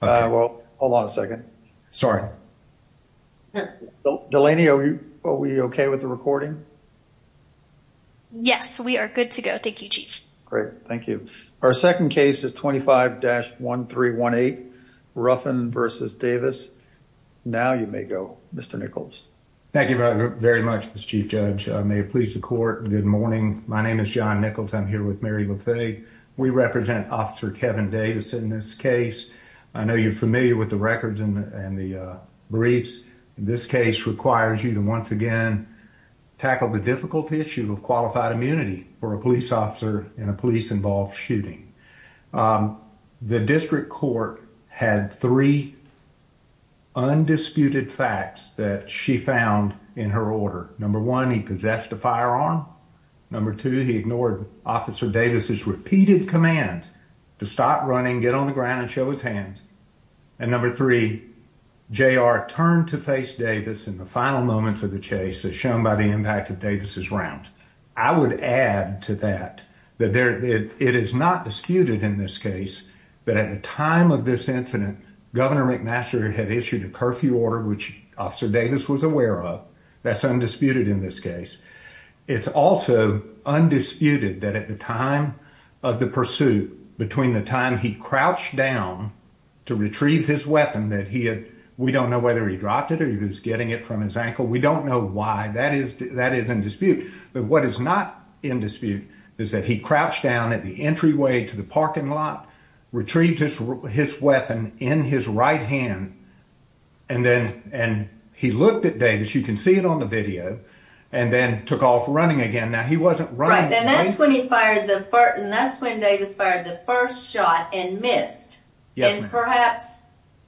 Well, hold on a second. Sorry. Delaney, are we okay with the recording? Yes, we are good to go. Thank you, Chief. Great. Thank you. Our second case is 25-1318, Ruffin v. Davis. Now you may go, Mr. Nichols. Thank you very much, Mr. Chief Judge. I may please the court. Good morning. My name is John Nichols. I'm here with Mary Bethay. We represent Officer Kevin Davis in this case. I know you're familiar with the records and the briefs. This case requires you to once again tackle the difficult issue of qualified immunity for a police officer in a police-involved shooting. The district court had three undisputed facts that she found in her order. Number one, he possessed a firearm. Number two, he ignored Officer Davis's repeated commands to stop running, get on the ground, and show his hands. And number three, J.R. turned to face Davis in the final moments of the chase as shown by the impact of Davis's rounds. I would add to that that it is not disputed in this case that at the time of this incident, Governor McMaster had issued a curfew order, which Officer Davis was aware of. That's undisputed in this case. It's also undisputed that at the time of the pursuit, between the time he crouched down to retrieve his weapon that he had, we don't know whether he dropped it or he was getting it from his ankle. We don't know why. That is in dispute. But what is not in dispute is that he crouched down at the entryway to the parking lot, retrieved his weapon in his right hand, and then he looked at Davis, you can see it on the video, and then took off running again. Now, he wasn't running. Right, and that's when he fired the first and that's when Davis fired the first shot and missed. And perhaps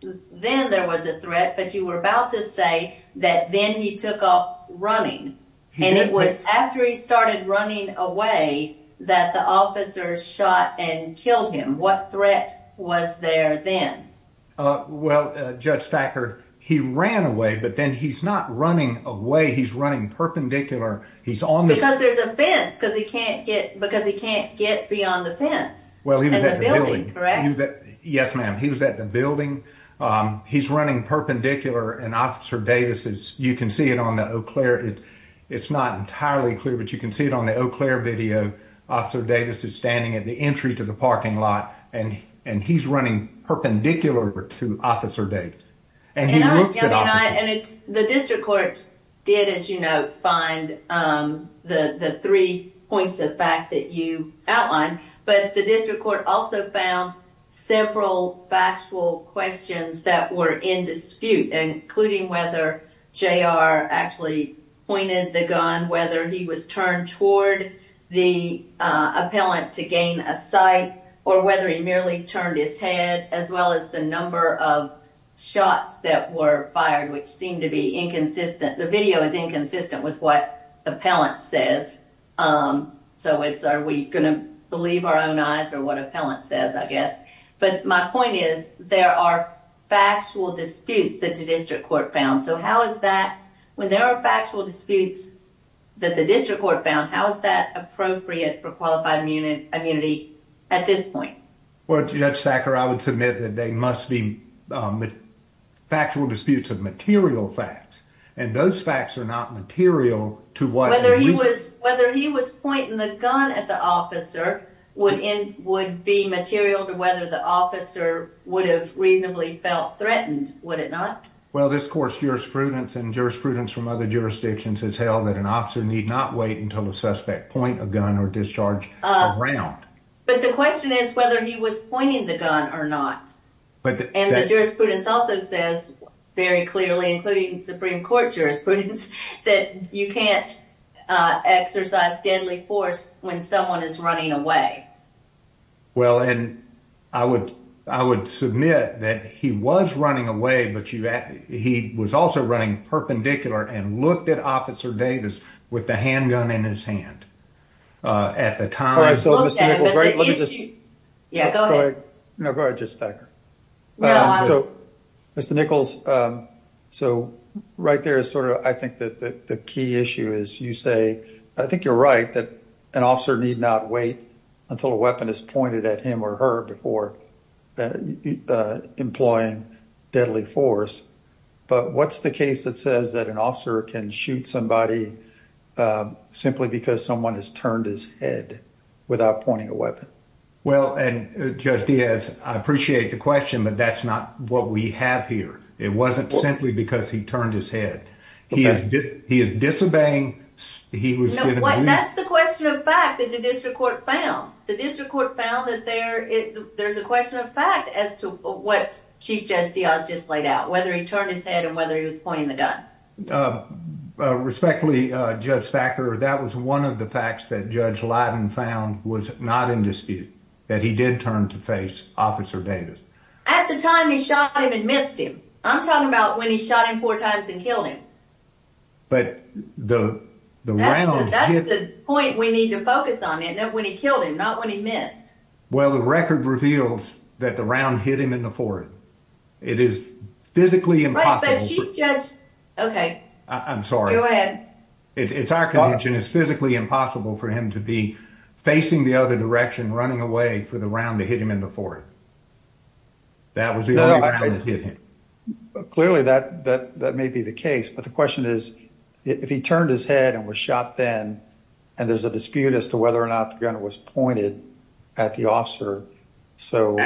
then there was a threat, but you were about to say that then he took off running. And it was after he started running away that the officers shot and killed him. What threat was there then? Well, Judge Thacker, he ran away, but then he's not running away. He's running perpendicular. He's on the... Because there's a fence, because he can't get beyond the fence. Well, he was at the building. Yes, ma'am. He was at the building. He's running perpendicular, and Officer Davis is, you can see it on the Eau Claire, it's not entirely clear, but you can see it on the Eau Claire video. Officer Davis is standing at the entry to the parking lot, and he's running perpendicular to Officer Davis. And he looked at Officer Davis. The district court did, as you note, find the three points of fact that you outlined, but the district court also found several factual questions that were in dispute, including whether J.R. actually pointed the gun, whether he was turned toward the appellant to gain a sight, or whether he merely turned his head, as well as the number of shots that were fired, which seemed to be inconsistent. The video is inconsistent with what appellant says. So it's, are we going to believe our own eyes or what appellant says, I guess. But my point is, there are factual disputes that the district court found, so how is that, when there are factual disputes that the district court found, how is that appropriate for qualified immunity at this point? Well, Judge Sacker, I would submit that they must be factual disputes of material facts, and those facts are not material to what the region... Whether he was pointing the gun at the officer would be material to whether the officer would have reasonably felt threatened, would it not? Well, this court's jurisprudence and jurisprudence from other jurisdictions has held that an officer need not wait until the suspect point a gun or discharge around. But the question is whether he was pointing the gun or not. And the jurisprudence also says very clearly, including Supreme Court jurisprudence, that you can't exercise deadly force when someone is running away. Well, and I would submit that he was running away, but he was also running perpendicular and looked at Officer Davis with the handgun in his hand at the time. Yeah, go ahead. No, go ahead, Judge Sacker. So, Mr. Nichols, so right there is sort of, I think that the key issue is you say, I think you're right, that an officer need not wait until a weapon is pointed at him or her before employing deadly force. But what's the case that says that an officer can shoot somebody simply because someone has turned his head without pointing a weapon? Well, and Judge Diaz, I appreciate the question, but that's not what we have here. It wasn't simply because he turned his head. He is disobeying. That's the question of fact that the district court found. The district court found that there's a question of fact as to what Chief Judge Diaz just laid out, whether he turned his head and whether he was pointing the gun. Respectfully, Judge Sacker, that was one of the facts that Judge Leiden found was not in dispute, that he did turn to face Officer Davis. At the time he shot him and missed him. I'm talking about when he shot him four times and killed him. But the round... That's the point we need to focus on, when he killed him, not when he missed. Well, the record reveals that the round hit him in the forehead. It is physically impossible... Right, but Chief Judge... Okay, I'm sorry. Go ahead. It's our condition. It's physically impossible for him to be facing the other direction, running away for the round to hit him in the forehead. That was the only round that hit him. Clearly that may be the case, but the question is, if he turned his head and was shot then, and there's a dispute as to whether or not the gun was pointed at the officer, so...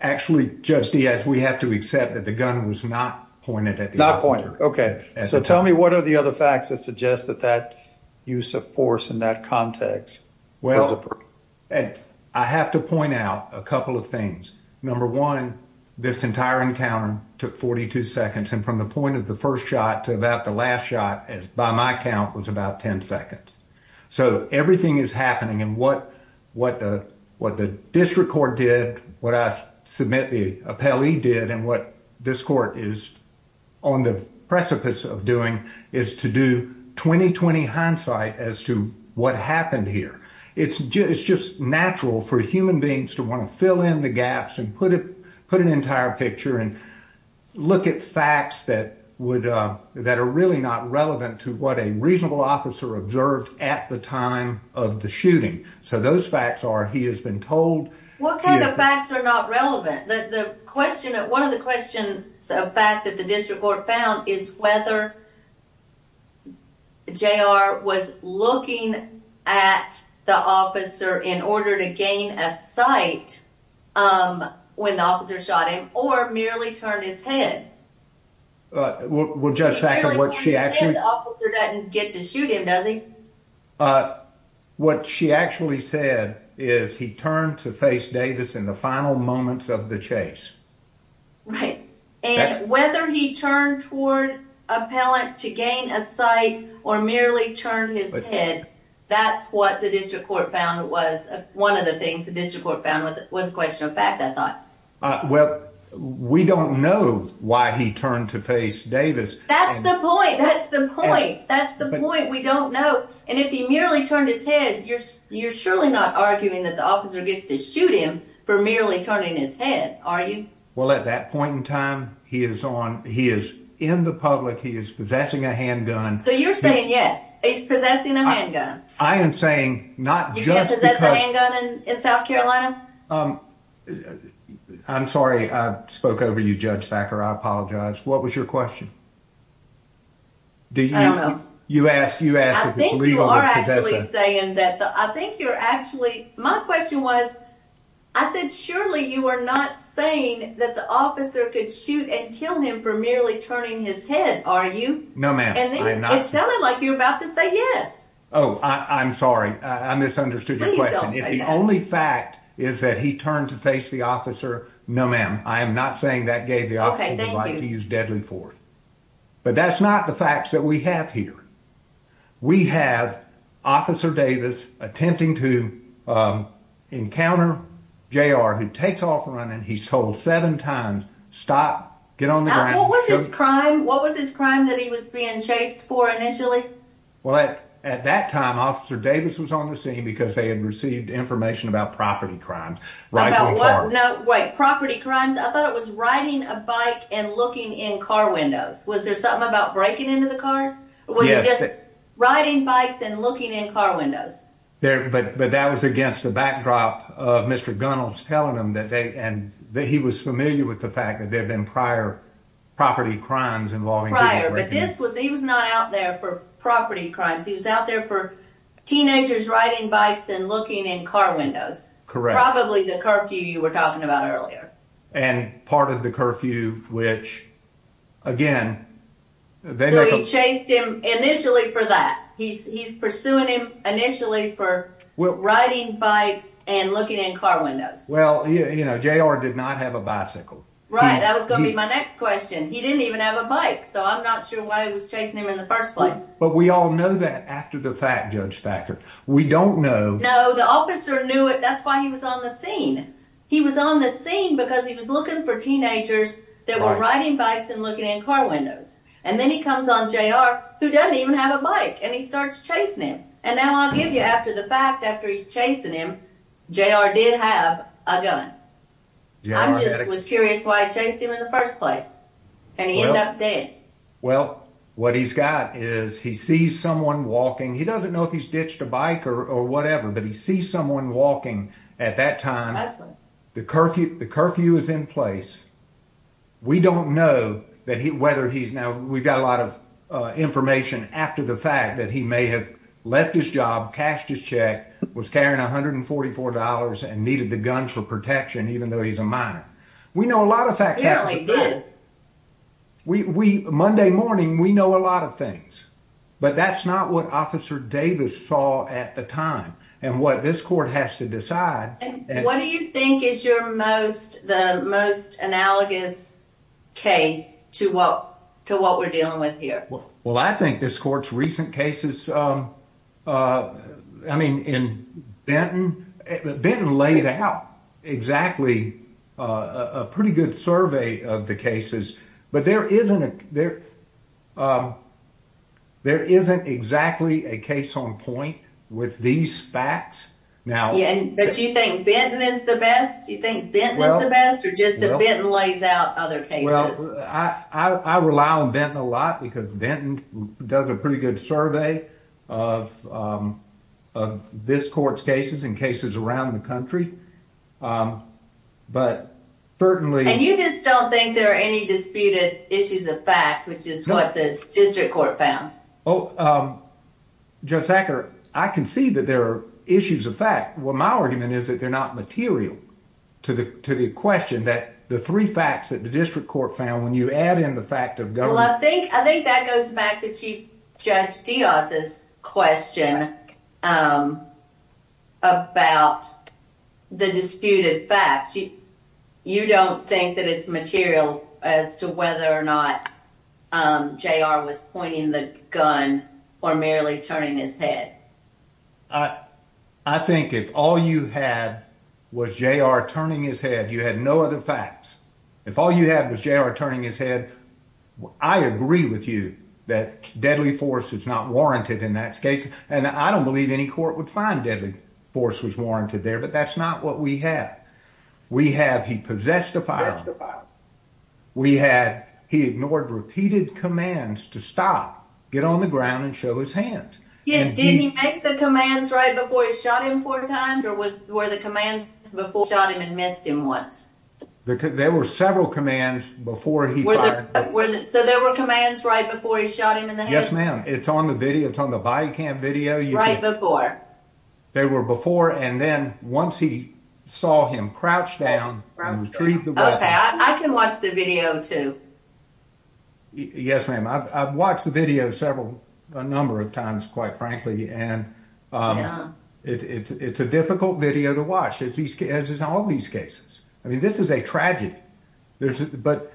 Actually, Judge Diaz, we have to accept that the gun was not pointed at the officer. Not pointed, okay. So tell me what are the other facts that suggest that that use of force in that context? Well, I have to point out a couple of things. Number one, this entire encounter took 42 seconds, and from the point of the first shot to about the last shot, by my count, was about 10 seconds. So everything is happening, and what the district court did, what I submit the appellee did, and what this court is on the precipice of doing, is to do 20-20 hindsight as to what happened here. It's just natural for human beings to want to fill in the gaps and put an entire picture and look at facts that are really not relevant to what a reasonable officer observed at the time of the shooting. So those facts are, he has been told... What kind of facts are not relevant? One of the questions of fact that the district court found is whether J.R. was looking at the officer in order to gain a sight when the officer shot him, or merely turned his head. Well, Judge Sackler, what she actually... The officer doesn't get to shoot him, does he? What she actually said is he turned to face Davis in the final moments of the trial. He was looking at the officer in order to gain a sight, or merely turn his head. That's what the district court found was one of the things the district court found was a question of fact, I thought. Well, we don't know why he turned to face Davis. That's the point! That's the point! That's the point! We don't know, and if he merely turned his head, you're surely not arguing that the officer gets to shoot him for merely turning his head, are you? Well, at that point in time, he is in the public, he is possessing a handgun. So you're saying, yes, he's possessing a handgun. I am saying not just because... You can't possess a handgun in South Carolina? I'm sorry, I spoke over you, Judge Sackler, I apologize. What was your question? I don't know. You asked if it's legal to possess a... I think you are actually saying that... I think you're actually... My question was, I said, surely you are not saying that the officer could shoot and kill him for merely turning his head, are you? No, ma'am. It sounded like you're about to say yes. Oh, I'm sorry, I misunderstood your question. If the only fact is that he turned to face the officer, no ma'am, I am not saying that gave the officer the right to use deadly force. But that's not the facts that we have here. We have Officer Davis attempting to encounter J.R. who takes off running. He's told seven times, stop, get on the ground. What was his crime? What was his crime that he was being chased for initially? Well, at that time, Officer Davis was on the scene because they had received information about property crimes. Right, property crimes. I thought it was riding a bike and looking in car windows. Was there something about breaking into the cars? Was it just riding bikes and looking in car windows? But that was against the backdrop of Mr. Gunnels telling them that he was familiar with the fact that there had been prior property crimes involving people. Prior, but he was not out there for property crimes. He was out there for teenagers riding bikes and looking in car windows. Correct. Probably the curfew you were talking about earlier. And part of the curfew, which again. So he chased him initially for that. He's pursuing him initially for riding bikes and looking in car windows. Well, you know, J.R. did not have a bicycle. Right. That was going to be my next question. He didn't even have a bike. So I'm not sure why he was chasing him in the first place. But we all know that after the fact, Judge Thacker. We don't know. No, the officer knew it. That's why he was on the scene. He was on the scene because he was looking for teenagers that were riding bikes and looking in car windows. And then he comes on J.R. who doesn't even have a bike and he starts chasing him. And now I'll give you after the fact, after he's chasing him, J.R. did have a gun. I just was curious why he chased him in the first place and he ended up dead. Well, what he's got is he sees someone walking. He doesn't know if he's ditched a bike or whatever, but he sees someone walking at that time. That's the curfew. The curfew is in place. We don't know that he whether he's now we've got a lot of information after the fact that he may have left his job, cashed his check, was carrying one hundred and forty four dollars and needed the guns for protection, even though he's a minor. We know a lot of facts. We Monday morning. We know a lot of things. But that's not what Officer Davis saw at the time and what this court has to decide. And what do you think is your most the most analogous case to what to what we're dealing with here? Well, I think this court's recent cases. I mean, in Benton, Benton laid out exactly a pretty good survey of the cases, but there isn't there. There isn't exactly a case on point with these facts now. But you think Ben is the best? You think Ben is the best or just the Ben lays out other cases? I rely on them a lot because Benton does a pretty good survey of of this court's cases and cases around the country. But certainly. And you just don't think there are any disputed issues of fact, which is what the district court found? Oh, Judge Sacker, I can see that there are issues of fact. Well, my argument is that they're not material to the to the question that the three facts that the district court found when you add in the fact of government. I think that goes back to Chief Judge Diaz's question about the disputed facts. You don't think that it's material as to whether or not J.R. was pointing the gun or merely turning his head. I think if all you had was J.R. turning his head, you had no other facts. If all you had was J.R. turning his head, I agree with you that deadly force is not warranted in that case. And I don't believe any court would find deadly force was warranted there. But that's not what we have. We have he possessed a firearm. We had he ignored repeated commands to stop, get on the ground and show his hand. Did he make the commands right before he shot him four times or were the commands before he shot him and missed him once? There were several commands before he fired. So there were commands right before he shot him in the head? Yes, ma'am. It's on the video. It's on the body cam video. Right before. They were before and then once he saw him crouch down and retrieve the weapon. I can watch the video too. Yes, ma'am. I've watched the video several a number of times, quite frankly, and it's a difficult video to watch, as is all these cases. I mean, this is a tragedy. But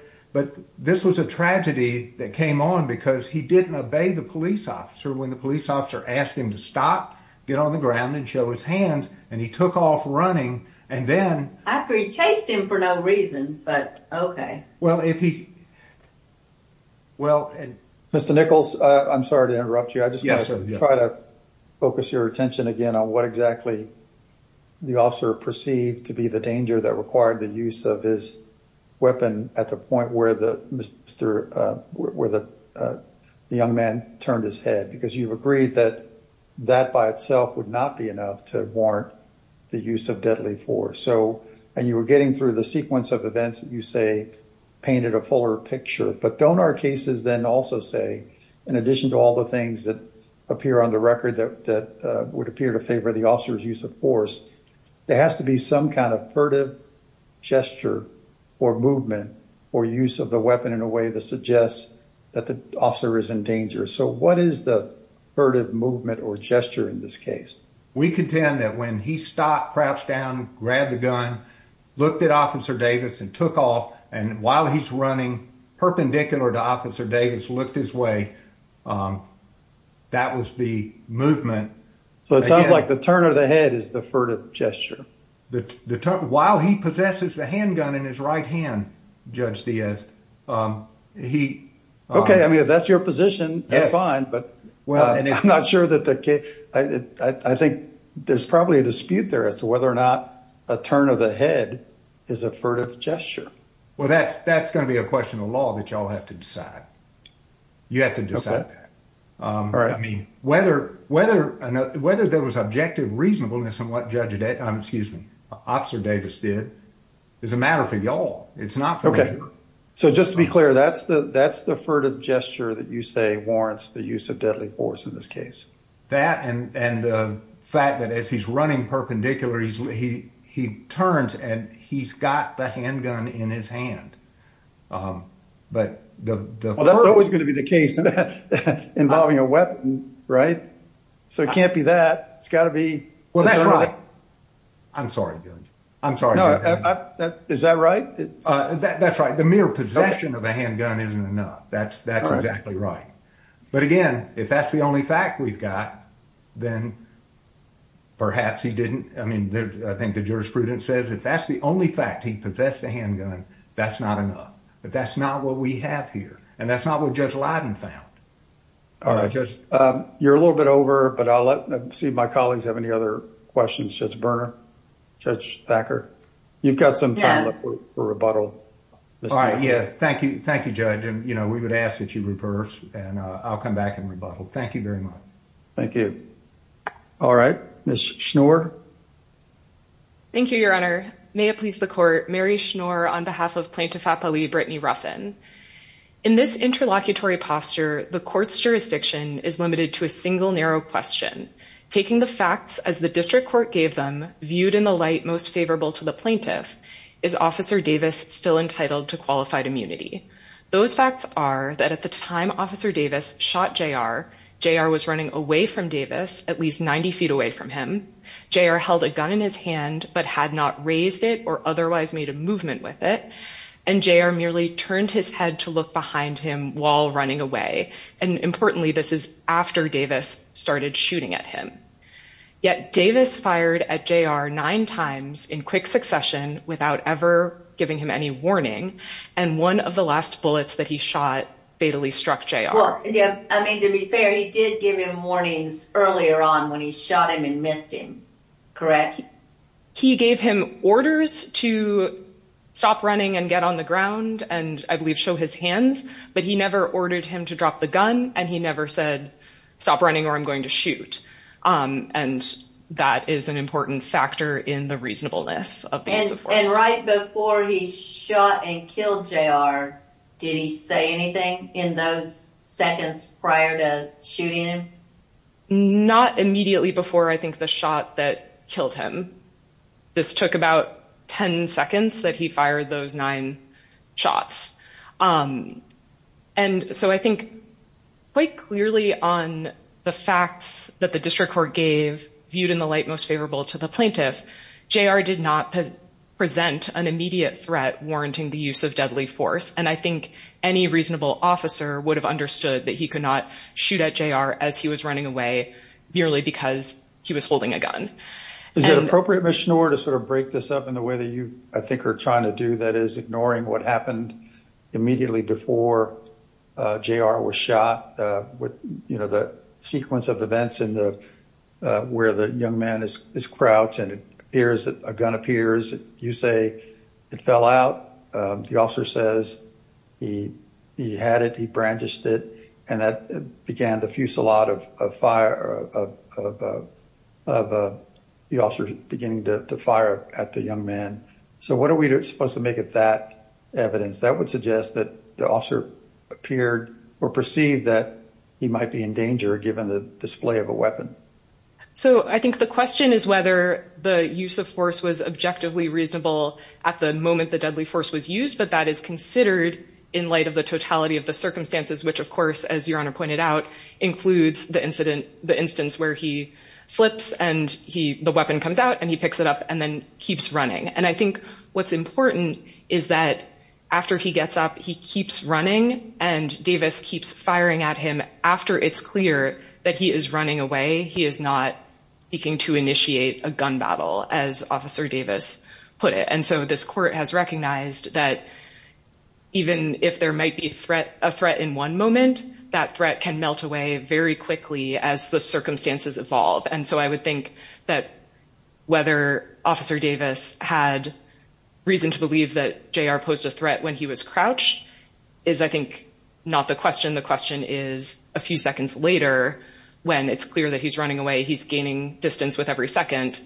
this was a tragedy that came on because he didn't obey the police officer when the police officer asked him to stop, get on the ground and show his hands. And he took off running and then after he chased him for no reason. But OK, well, if he. Well, Mr. Nichols, I'm sorry to interrupt you. I just want to try to focus your attention again on what exactly the officer perceived to be the danger that required the use of his weapon at the point where the young man turned his head, because you've agreed that that by itself would not be enough to warrant the use of deadly force. And you were getting through the sequence of events that you say painted a fuller picture. But don't our cases then also say, in addition to all the things that appear on the record that would appear to favor the officer's use of force, there has to be some kind of furtive gesture or movement or use of the weapon in a way that suggests that the officer is in danger. So what is the furtive movement or gesture in this case? We contend that when he stopped, crouched down, grabbed the gun, looked at Officer Davis and took off. And while he's running perpendicular to Officer Davis, looked his way. That was the movement. So it sounds like the turn of the head is the furtive gesture. While he possesses the handgun in his right hand, Judge Diaz, he. OK, I mean, if that's your position, that's fine. But well, I'm not sure that the case I think there's probably a dispute there as to whether or not a turn of the head is a furtive gesture. Well, that's that's going to be a question of law that you all have to decide. You have to decide that. All right. I mean, whether whether whether there was objective reasonableness in what Judge, excuse me, Officer Davis did is a matter for you all. It's not OK. So just to be clear, that's the that's the furtive gesture that you say warrants the use of deadly force in this case. That and the fact that as he's running perpendicular, he he turns and he's got the handgun in his hand. But that's always going to be the case involving a weapon. Right. So it can't be that it's got to be. Well, that's right. I'm sorry. I'm sorry. Is that right? That's right. The mere possession of a handgun isn't enough. That's that's exactly right. But again, if that's the only fact we've got, then perhaps he didn't. I mean, I think the jurisprudence says if that's the only fact he possessed a handgun, that's not enough. But that's not what we have here. And that's not what Judge Lyden found. All right. You're a little bit over, but I'll let my colleagues have any other questions. Judge Berner, Judge Thacker, you've got some time for rebuttal. All right. Yes. Thank you. Thank you, Judge. And, you know, we would ask that you reverse and I'll come back and rebuttal. Thank you very much. Thank you. All right. Ms. Schnoor. Thank you, Your Honor. May it please the court. Mary Schnoor on behalf of Plaintiff Appellee Brittany Ruffin. In this interlocutory posture, the court's jurisdiction is limited to a single narrow question. Taking the facts as the district court gave them viewed in the light most favorable to the plaintiff. Is Officer Davis still entitled to qualified immunity? Those facts are that at the time Officer Davis shot J.R., J.R. was running away from Davis at least 90 feet away from him. J.R. held a gun in his hand but had not raised it or otherwise made a movement with it. And J.R. merely turned his head to look behind him while running away. And importantly, this is after Davis started shooting at him. Yet Davis fired at J.R. nine times in quick succession without ever giving him any warning. And one of the last bullets that he shot fatally struck J.R. I mean, to be fair, he did give him warnings earlier on when he shot him and missed him. Correct. He gave him orders to stop running and get on the ground and I believe show his hands. But he never ordered him to drop the gun and he never said stop running or I'm in the reasonableness of the use of force. And right before he shot and killed J.R., did he say anything in those seconds prior to shooting him? Not immediately before I think the shot that killed him. This took about 10 seconds that he fired those nine shots. And so I think quite clearly on the facts that the district court gave viewed in the light most favorable to the plaintiff, J.R. did not present an immediate threat warranting the use of deadly force. And I think any reasonable officer would have understood that he could not shoot at J.R. as he was running away merely because he was holding a gun. Is it appropriate, Ms. Schnoor, to sort of break this up in the way that you I think are trying to do that is ignoring what happened immediately before J.R. was shot with the sequence of events where the young man is crouched and a gun appears, you say it fell out, the officer says he had it, he brandished it, and that began the fusillade of the officer beginning to fire at the young man. So what are we supposed to make of that evidence? That would suggest that officer appeared or perceived that he might be in danger given the display of a weapon. So I think the question is whether the use of force was objectively reasonable at the moment the deadly force was used. But that is considered in light of the totality of the circumstances, which, of course, as your honor pointed out, includes the incident, the instance where he slips and he the weapon comes out and he picks it up and then keeps running. And I think what's important is that after he gets up, he keeps running and Davis keeps firing at him after it's clear that he is running away. He is not seeking to initiate a gun battle, as officer Davis put it. And so this court has recognized that even if there might be a threat in one moment, that threat can melt away very quickly as the circumstances evolve. And so I would think that whether officer Davis had reason to believe that J.R. posed a threat when he was crouched is, I think, not the question. The question is, a few seconds later, when it's clear that he's running away, he's gaining distance with every second.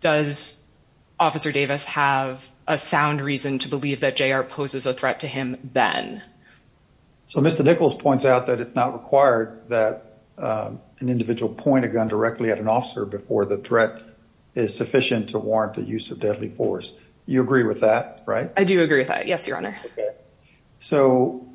Does officer Davis have a sound reason to believe that J.R. poses a threat to him then? So Mr. Nichols points out that it's not required that an individual point a gun directly at an officer before the threat is sufficient to warrant the use of deadly force. You agree with that, right? I do agree with that. Yes, your honor. So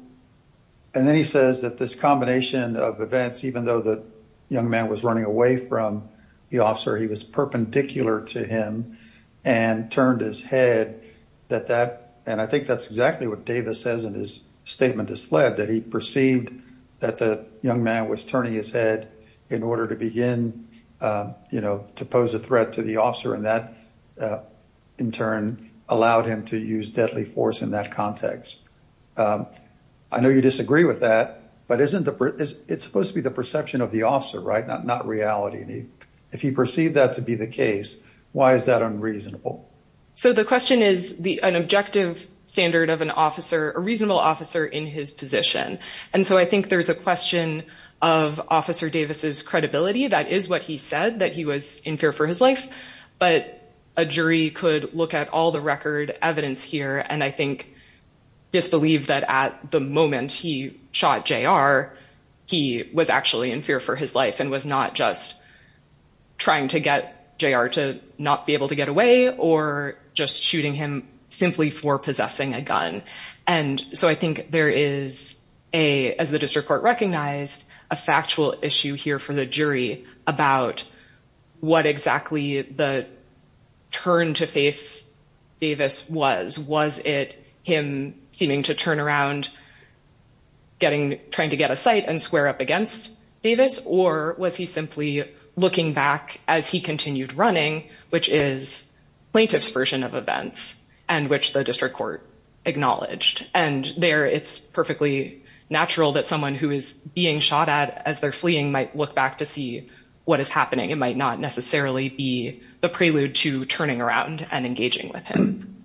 and then he says that this combination of events, even though the young man was running away from the officer, he was perpendicular to him and turned his head that that and I think that's exactly what Davis says in his statement to SLED that he perceived that the young man was turning his head in order to begin, you know, to pose a threat to the officer and that, in turn, allowed him to use deadly force in that context. I know you disagree with that, but it's supposed to be the perception of the officer, right? Not reality. If he perceived that to be the case, why is that unreasonable? So the question is an objective standard of an officer, a reasonable officer in his position. And so I think there's a question of officer Davis's credibility. That is what he said, that he was in fear for his life. But a jury could look at all the record evidence here. And I think disbelieve that at the moment he shot J.R., he was actually in fear for his life and was not just trying to get J.R. to not be able to get away or just shooting him simply for possessing a gun. And so I think there is a, as the district court recognized, a factual issue here for the jury about what exactly the turn to face Davis was. Was it him seeming to turn around, trying to get a sight and square up against Davis? Or was he simply looking back as he continued running, which is plaintiff's version of events and which the district court acknowledged. And there it's perfectly natural that someone who is being shot at as they're fleeing might look back to see what is happening. It might not necessarily be the prelude to turning around and engaging with him.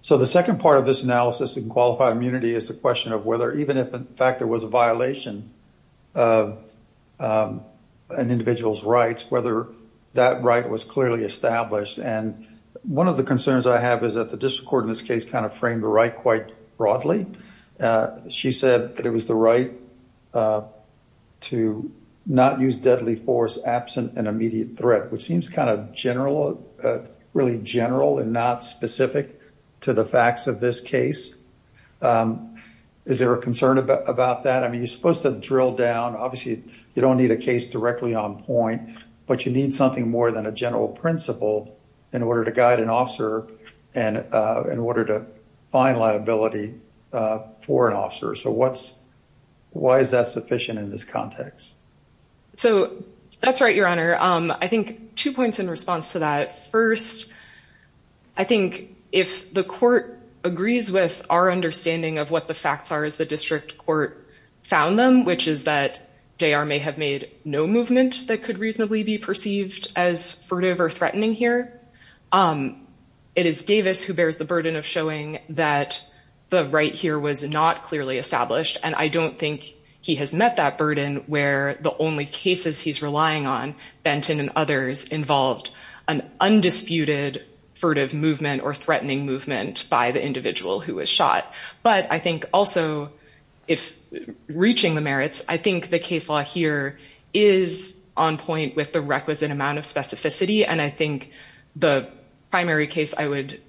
So the second part of this analysis in qualified immunity is the question of whether even if in fact there was a violation of an individual's rights, whether that right was clearly established. And one of the concerns I have is that the district court in this case kind of framed a right quite broadly. She said that it was the right to not use deadly force absent an immediate threat, which seems kind of general, really general and not specific to the facts of this case. Is there a concern about that? I mean, you're supposed to drill down. Obviously, you don't need a case directly on point, but you need something more than a general principle in order to guide an officer and in order to find liability for an officer. So why is that sufficient in this context? So that's right, Your Honor. I think two points in response to that. First, I think if the court agrees with our understanding of what the facts are as the district court found them, which is that JR may have made no movement that could reasonably be perceived as furtive or threatening here. It is Davis who bears the burden of showing that the right here was not clearly established. And I don't think he has met that burden where the only cases he's relying on, Benton and others, involved an undisputed furtive movement or threatening movement by the individual who was shot. But I think also if reaching the merits, I think the case law here is on point with the requisite amount of specificity. And I think the primary case I would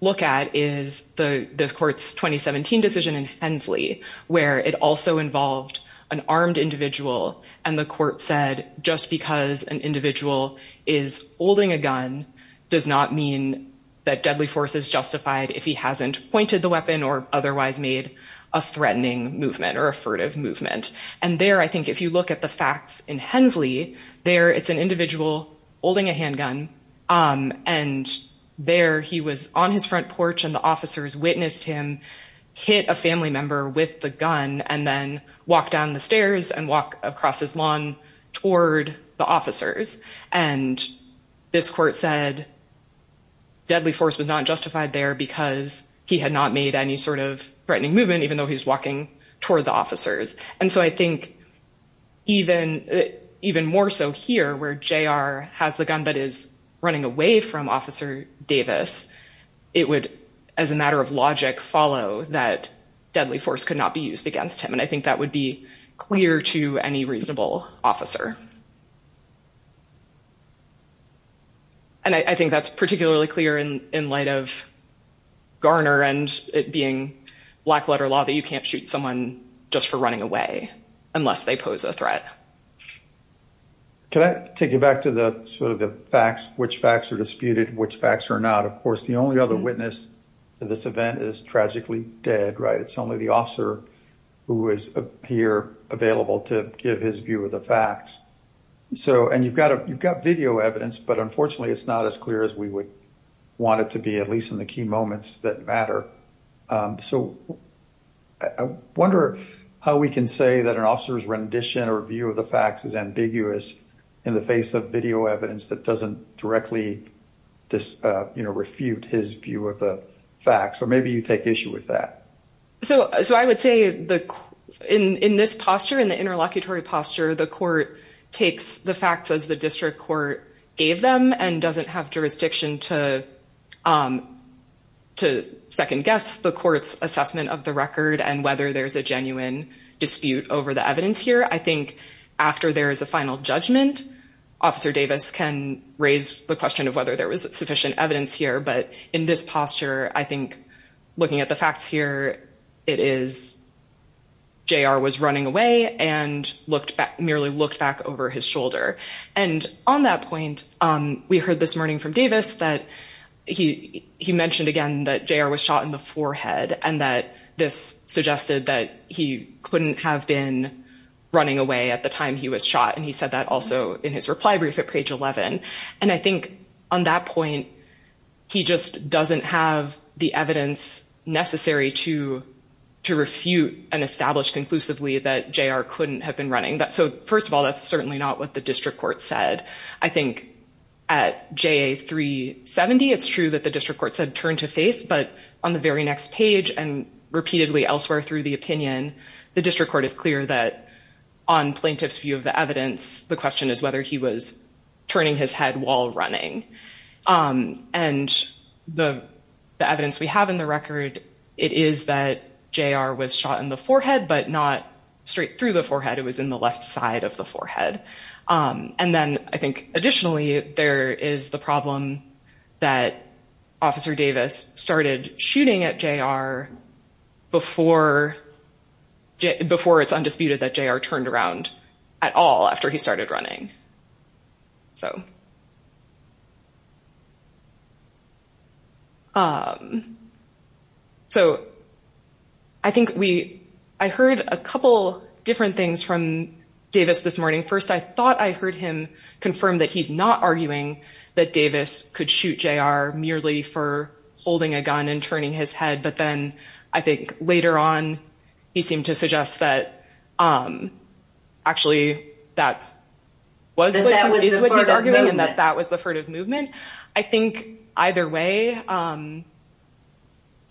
look at is the court's 2017 decision in Hensley, where it also involved an armed individual. And the court said, just because an individual is holding a gun does not mean that deadly force is justified if he hasn't pointed the weapon or otherwise made a threatening movement or a furtive movement. And there, I think if you look at the facts in Hensley, there it's an individual holding a handgun. And there he was on his front porch and the officers witnessed him hit a family member with the gun and then walk down the stairs and walk across his lawn toward the officers. And this court said deadly force was not justified there because he had not made any sort of threatening movement even though he was walking toward the officers. And so I think even more so here where JR has the gun but is running away from Officer Davis, it would, as a matter of logic, follow that deadly force could not be used against him. And I think that would be clear to any reasonable officer. And I think that's particularly clear in light of Garner and it being black letter law that you can't shoot someone just for running away unless they pose a threat. Can I take you back to the sort of the facts, which facts are disputed, which facts are not? Of course, the only other witness to this event is tragically dead, right? It's only the officer who is here available to give his view of the facts. So and you've got a you've got video evidence, but unfortunately, it's not as clear as we would want it to be, at least in the key moments that matter. So I wonder how we can say that an officer's rendition or view of the facts is ambiguous in the face of video evidence that doesn't directly refute his view of the facts. Or maybe you take issue with that. So I would say in this posture, in the interlocutory posture, the court takes the facts as the district court gave them and doesn't have jurisdiction to second guess the court's assessment of the record and whether there's a genuine dispute over the evidence here. I think after there is a final judgment, Officer Davis can raise the question of whether there was sufficient evidence here. But in this posture, I think looking at the facts here, it is J.R. was running away and merely looked back over his shoulder. And on that point, we heard this morning from Davis that he he mentioned again that J.R. was shot in the forehead and that this suggested that he couldn't have been running away at the time he was shot. And he said that also in his reply brief at page 11. And I think on that point, he just doesn't have the evidence necessary to to refute and establish conclusively that J.R. couldn't have been running. So first of all, that's certainly not what the district court said. I think at J.A. 370, it's true that the district court said turn to face. But on the very next page and repeatedly elsewhere through the opinion, the district court is clear that on plaintiff's view of the evidence, the question is whether he was turning his head while running. And the evidence we have in the record, it is that J.R. was shot in the forehead, but not straight through the forehead. It was in the left side of the forehead. And then I think additionally, there is the problem that Officer Davis started shooting at J.R. before it's undisputed that J.R. turned around at all after he started running. So I think I heard a couple different things from Davis this morning. First, I thought I heard him confirm that he's not arguing that Davis could shoot J.R. merely for holding a gun and turning his head. But then I think later on, he seemed to suggest that actually that was what he was arguing and that that was the furtive movement. I think either way, the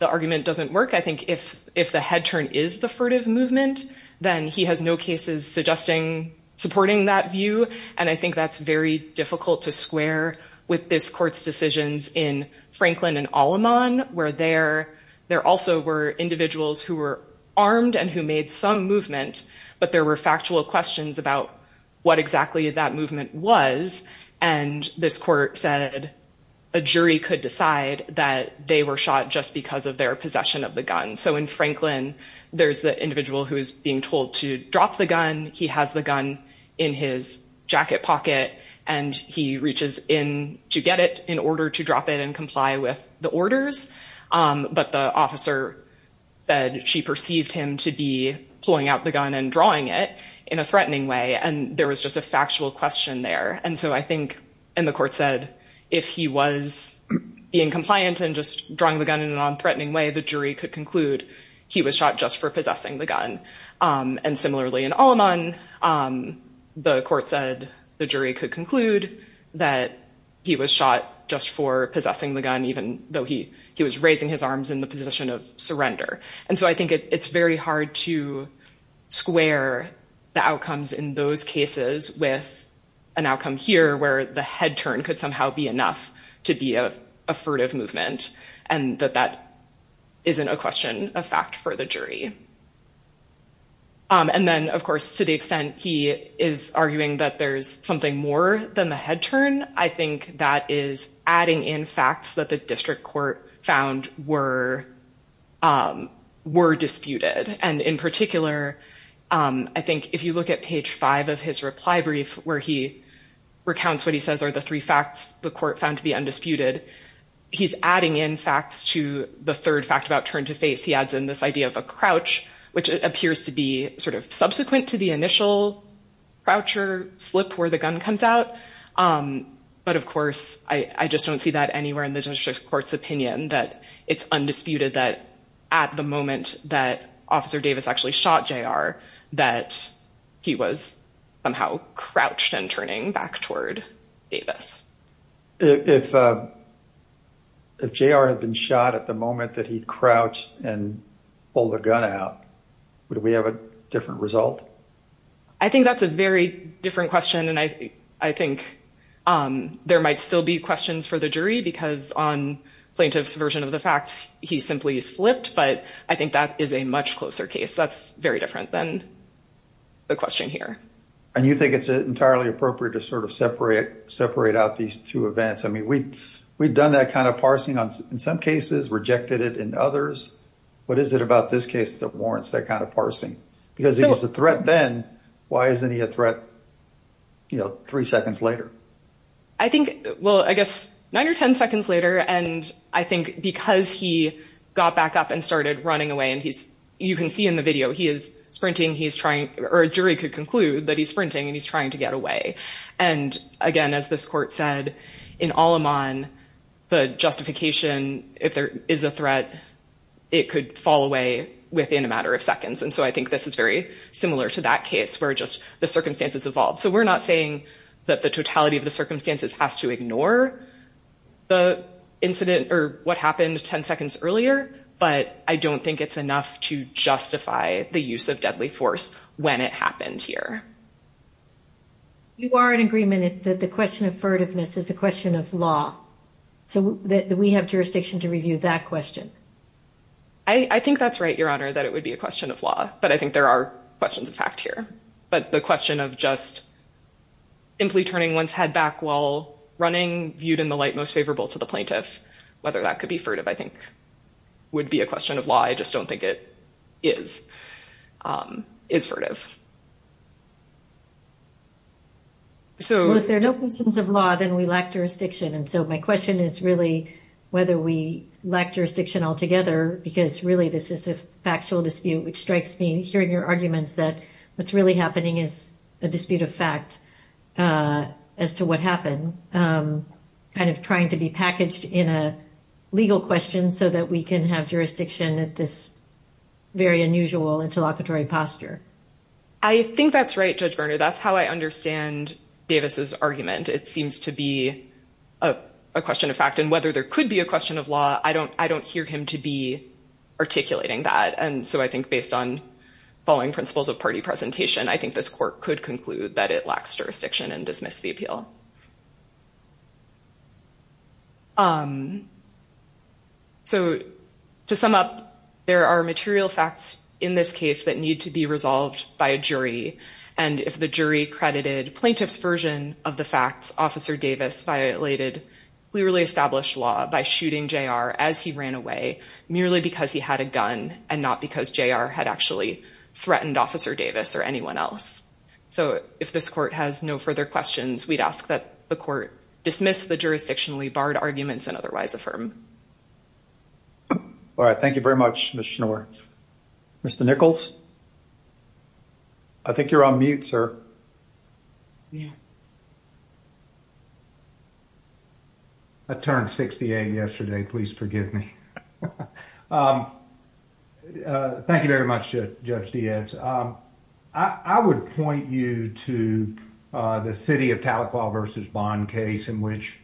argument doesn't work. I think if the head turn is the furtive movement, then he has no cases supporting that view. And I think that's very difficult to square with this court's decisions in Franklin and Aleman, where there also were individuals who were armed and who made some movement, but there were factual questions about what exactly that movement was. And this court said a jury could decide that they were shot just because of their possession of the gun. So in Franklin, there's the individual who is being told to drop the gun. He has the gun in his jacket pocket and he reaches in to get it in order to drop it and comply with the orders. But the officer said she perceived him to be pulling out the gun and drawing it in a threatening way. And there was just a factual question there. And so I think, and the court said, if he was being compliant and just drawing the gun in a nonthreatening way, the jury could conclude he was shot just for possessing the gun. And similarly in Aleman, the court said the jury could conclude that he was shot just for possessing the gun, even though he was raising his arms in the position of surrender. And so I think it's very hard to square the outcomes in those cases with an outcome here, where the head turn could somehow be enough to be a furtive movement and that that isn't a question of fact for the jury. And then, of course, to the extent he is arguing that there's something more than the head turn, I think that is adding in facts that the district court found were disputed. And in particular, I think if you look at page 5 of his reply brief, where he recounts what he says are the three court found to be undisputed, he's adding in facts to the third fact about turn to face. He adds in this idea of a crouch, which appears to be sort of subsequent to the initial crouch or slip where the gun comes out. But of course, I just don't see that anywhere in the district court's opinion that it's undisputed that at the moment that officer Davis actually shot J.R. that he was somehow crouched and turning back toward Davis. If J.R. had been shot at the moment that he crouched and pulled the gun out, would we have a different result? I think that's a very different question. And I think there might still be questions for the jury because on plaintiff's version of the facts, he simply slipped. But I think that is a much closer case. That's very different than the question here. And you think it's entirely appropriate to sort of separate separate out these two events? I mean, we've we've done that kind of parsing on in some cases, rejected it in others. What is it about this case that warrants that kind of parsing because it was a threat then? Why isn't he a threat? You know, three seconds later, I think, well, I guess nine or 10 seconds later. And I think because he got back up and started running away and he's you can see in the video he is sprinting, he's trying or a jury could conclude that he's sprinting and he's trying to get away. And again, as this court said, in all on the justification, if there is a threat, it could fall away within a matter of seconds. And so I think this is very similar to that case where just the circumstances evolved. So we're not saying that the totality of the circumstances has to ignore the incident or what happened 10 seconds earlier. But I don't think it's enough to justify the use of deadly force when it happened here. You are in agreement that the question of furtiveness is a question of law, so that we have jurisdiction to review that question. I think that's right, Your Honor, that it would be a but the question of just simply turning one's head back while running viewed in the light most favorable to the plaintiff, whether that could be furtive, I think, would be a question of law. I just don't think it is is furtive. So if there are no questions of law, then we lack jurisdiction. And so my question is really whether we lack jurisdiction altogether, because really, this is a factual dispute, which strikes me hearing your arguments that what's really happening is a dispute of fact as to what happened, kind of trying to be packaged in a legal question so that we can have jurisdiction at this very unusual interlocutory posture. I think that's right, Judge Berner. That's how I understand Davis's argument. It seems to be a question of fact. And whether there could be a question of law, I don't hear him to be I think this court could conclude that it lacks jurisdiction and dismiss the appeal. So to sum up, there are material facts in this case that need to be resolved by a jury. And if the jury credited plaintiff's version of the facts, Officer Davis violated clearly established law by shooting JR as he ran away, merely because he had a gun and not because JR had actually fired Officer Davis or anyone else. So if this court has no further questions, we'd ask that the court dismiss the jurisdictionally barred arguments and otherwise affirm. All right. Thank you very much, Ms. Schnoor. Mr. Nichols? I think you're on mute, sir. Yeah. I turned 68 yesterday. Please forgive me. Thank you very much, Judge Diaz. I would point you to the City of Tahlequah v. Bond case in which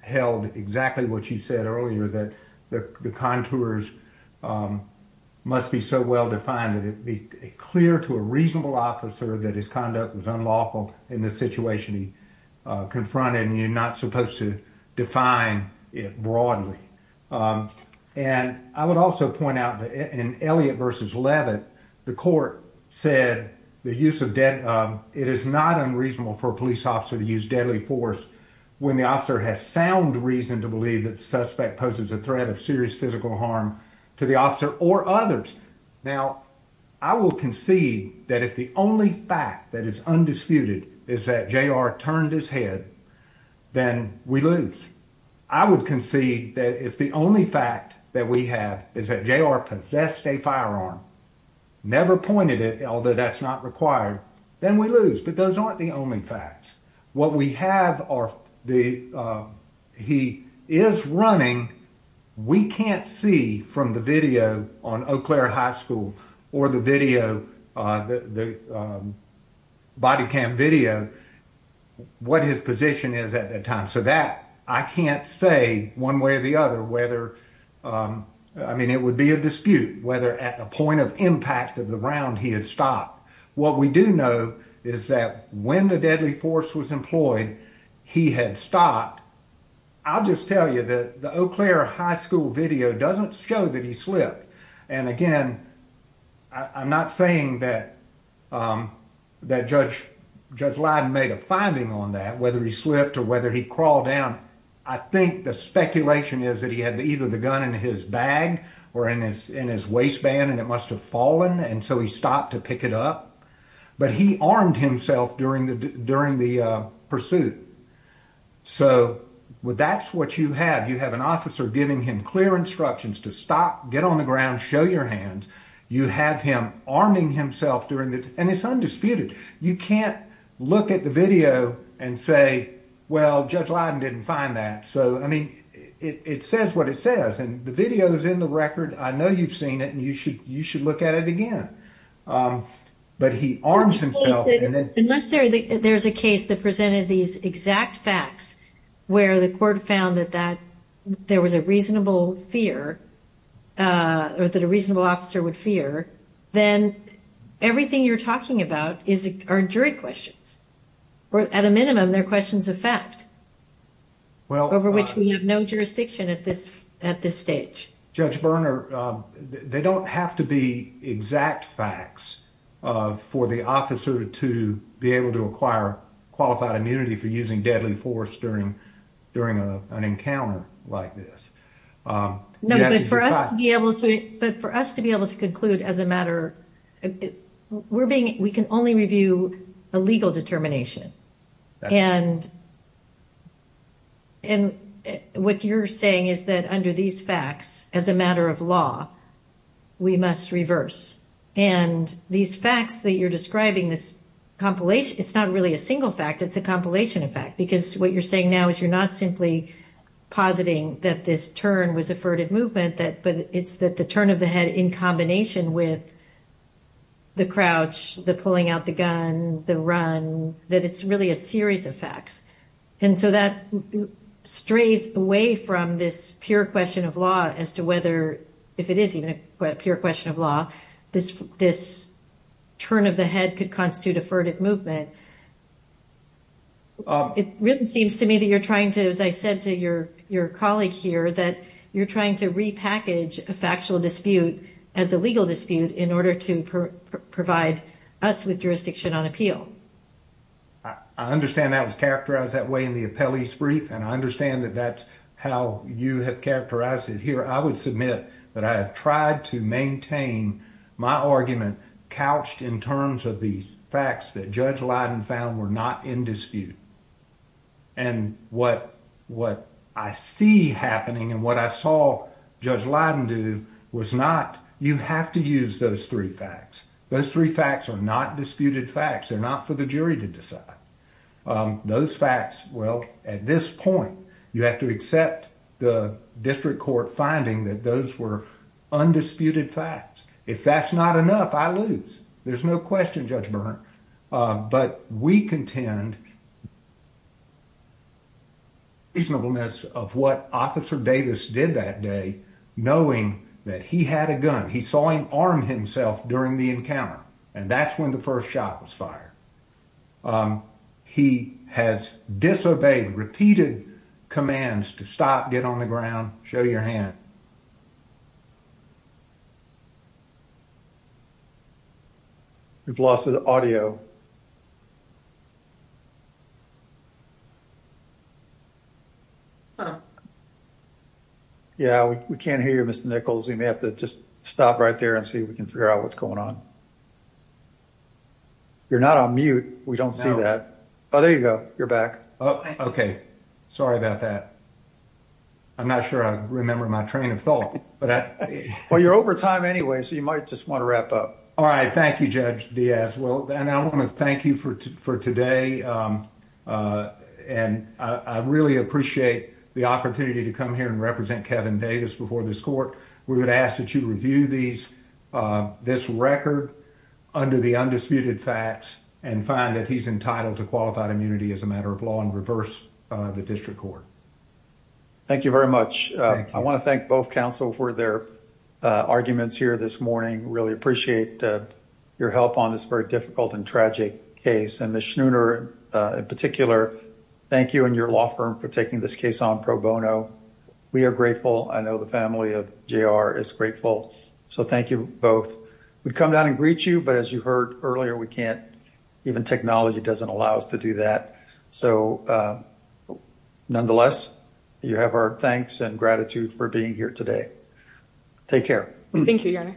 held exactly what you said earlier, that the contours must be so well-defined that it be clear to a reasonable officer that his conduct was unlawful in the situation he confronted and you're not supposed to define it broadly. And I would also point out in Elliott v. Leavitt, the court said the use of deadly force, it is not unreasonable for a police officer to use deadly force when the officer has sound reason to believe that the suspect poses a threat of physical harm to the officer or others. Now, I will concede that if the only fact that is undisputed is that JR turned his head, then we lose. I would concede that if the only fact that we have is that JR possessed a firearm, never pointed it, although that's not required, then we lose. But those aren't the only facts. What we have are the, he is running, we can't see from the video on Eau Claire High School or the video, the body cam video, what his position is at that time. So that, I can't say one way or the other whether, I mean, it would be a dispute whether at the point of impact of the round he had stopped. What we do know is that when the deadly force was employed, he had stopped. I'll just tell you that the Eau Claire High School video doesn't show that he slipped. And again, I'm not saying that Judge Lyden made a finding on that, whether he slipped or whether he crawled down. I think the speculation is that he had either the gun in his bag or in his waistband and it but he armed himself during the pursuit. So that's what you have. You have an officer giving him clear instructions to stop, get on the ground, show your hands. You have him arming himself during the, and it's undisputed. You can't look at the video and say, well, Judge Lyden didn't find that. So, I mean, it says what it says and the video is in the record. I know you've seen it and you should, you should look at it again. But he arms himself. Unless there's a case that presented these exact facts where the court found that that there was a reasonable fear or that a reasonable officer would fear, then everything you're talking about are jury questions. Or at a minimum, they're questions of fact, over which we have no jurisdiction at this stage. Judge Berner, they don't have to be exact facts for the officer to be able to acquire qualified immunity for using deadly force during, during an encounter like this. No, but for us to be able to, but for us to be able to conclude as a matter, we're being, we can only review a legal determination. And, and what you're saying is that under these facts, as a matter of law, we must reverse. And these facts that you're describing, this compilation, it's not really a single fact, it's a compilation of fact, because what you're saying now is you're not simply positing that this turn was a furtive movement that, but it's that the turn of the head in combination with the crouch, the pulling out gun, the run, that it's really a series of facts. And so that strays away from this pure question of law as to whether, if it is even a pure question of law, this, this turn of the head could constitute a furtive movement. It really seems to me that you're trying to, as I said to your, your colleague here, that you're trying to repackage a factual dispute as a legal dispute in order to provide us with jurisdiction on appeal. I understand that was characterized that way in the appellee's brief. And I understand that that's how you have characterized it here. I would submit that I have tried to maintain my argument couched in terms of the facts that Judge Leiden found were not in dispute. And what, what I see happening and what I saw Judge Leiden do was not, you have to use those three facts. Those three facts are not disputed facts. They're not for the jury to decide. Those facts, well, at this point, you have to accept the district court finding that those were undisputed facts. If that's not enough, I lose. There's no question, Judge Bern. But we contend the reasonableness of what Officer Davis did that day, knowing that he had a gun. He saw him arm himself during the encounter. And that's when the first shot was fired. He has disobeyed repeated commands to stop, get on the ground, show your hand. We've lost the audio. Yeah, we can't hear you, Mr. Nichols. We may have to just stop right there and see if we can figure out what's going on. You're not on mute. We don't see that. Oh, there you go. You're back. Oh, okay. Sorry about that. I'm not sure I remember my train of thought. Well, you're over time anyway, so you might just want to wrap up. All right. Thank you, Judge Diaz. And I want to thank you for today. And I really appreciate the opportunity to come here and represent Kevin Davis before this court. We would ask that you review this record under the undisputed facts and find that he's entitled to qualified immunity as a matter of law and reverse the district court. Thank you very much. I want to thank both for their arguments here this morning. Really appreciate your help on this very difficult and tragic case. And Ms. Schnooner, in particular, thank you and your law firm for taking this case on pro bono. We are grateful. I know the family of JR is grateful. So thank you both. We come down and greet you, but as you heard earlier, we can't, even technology doesn't allow us to do that. So take care. Thank you, Your Honor.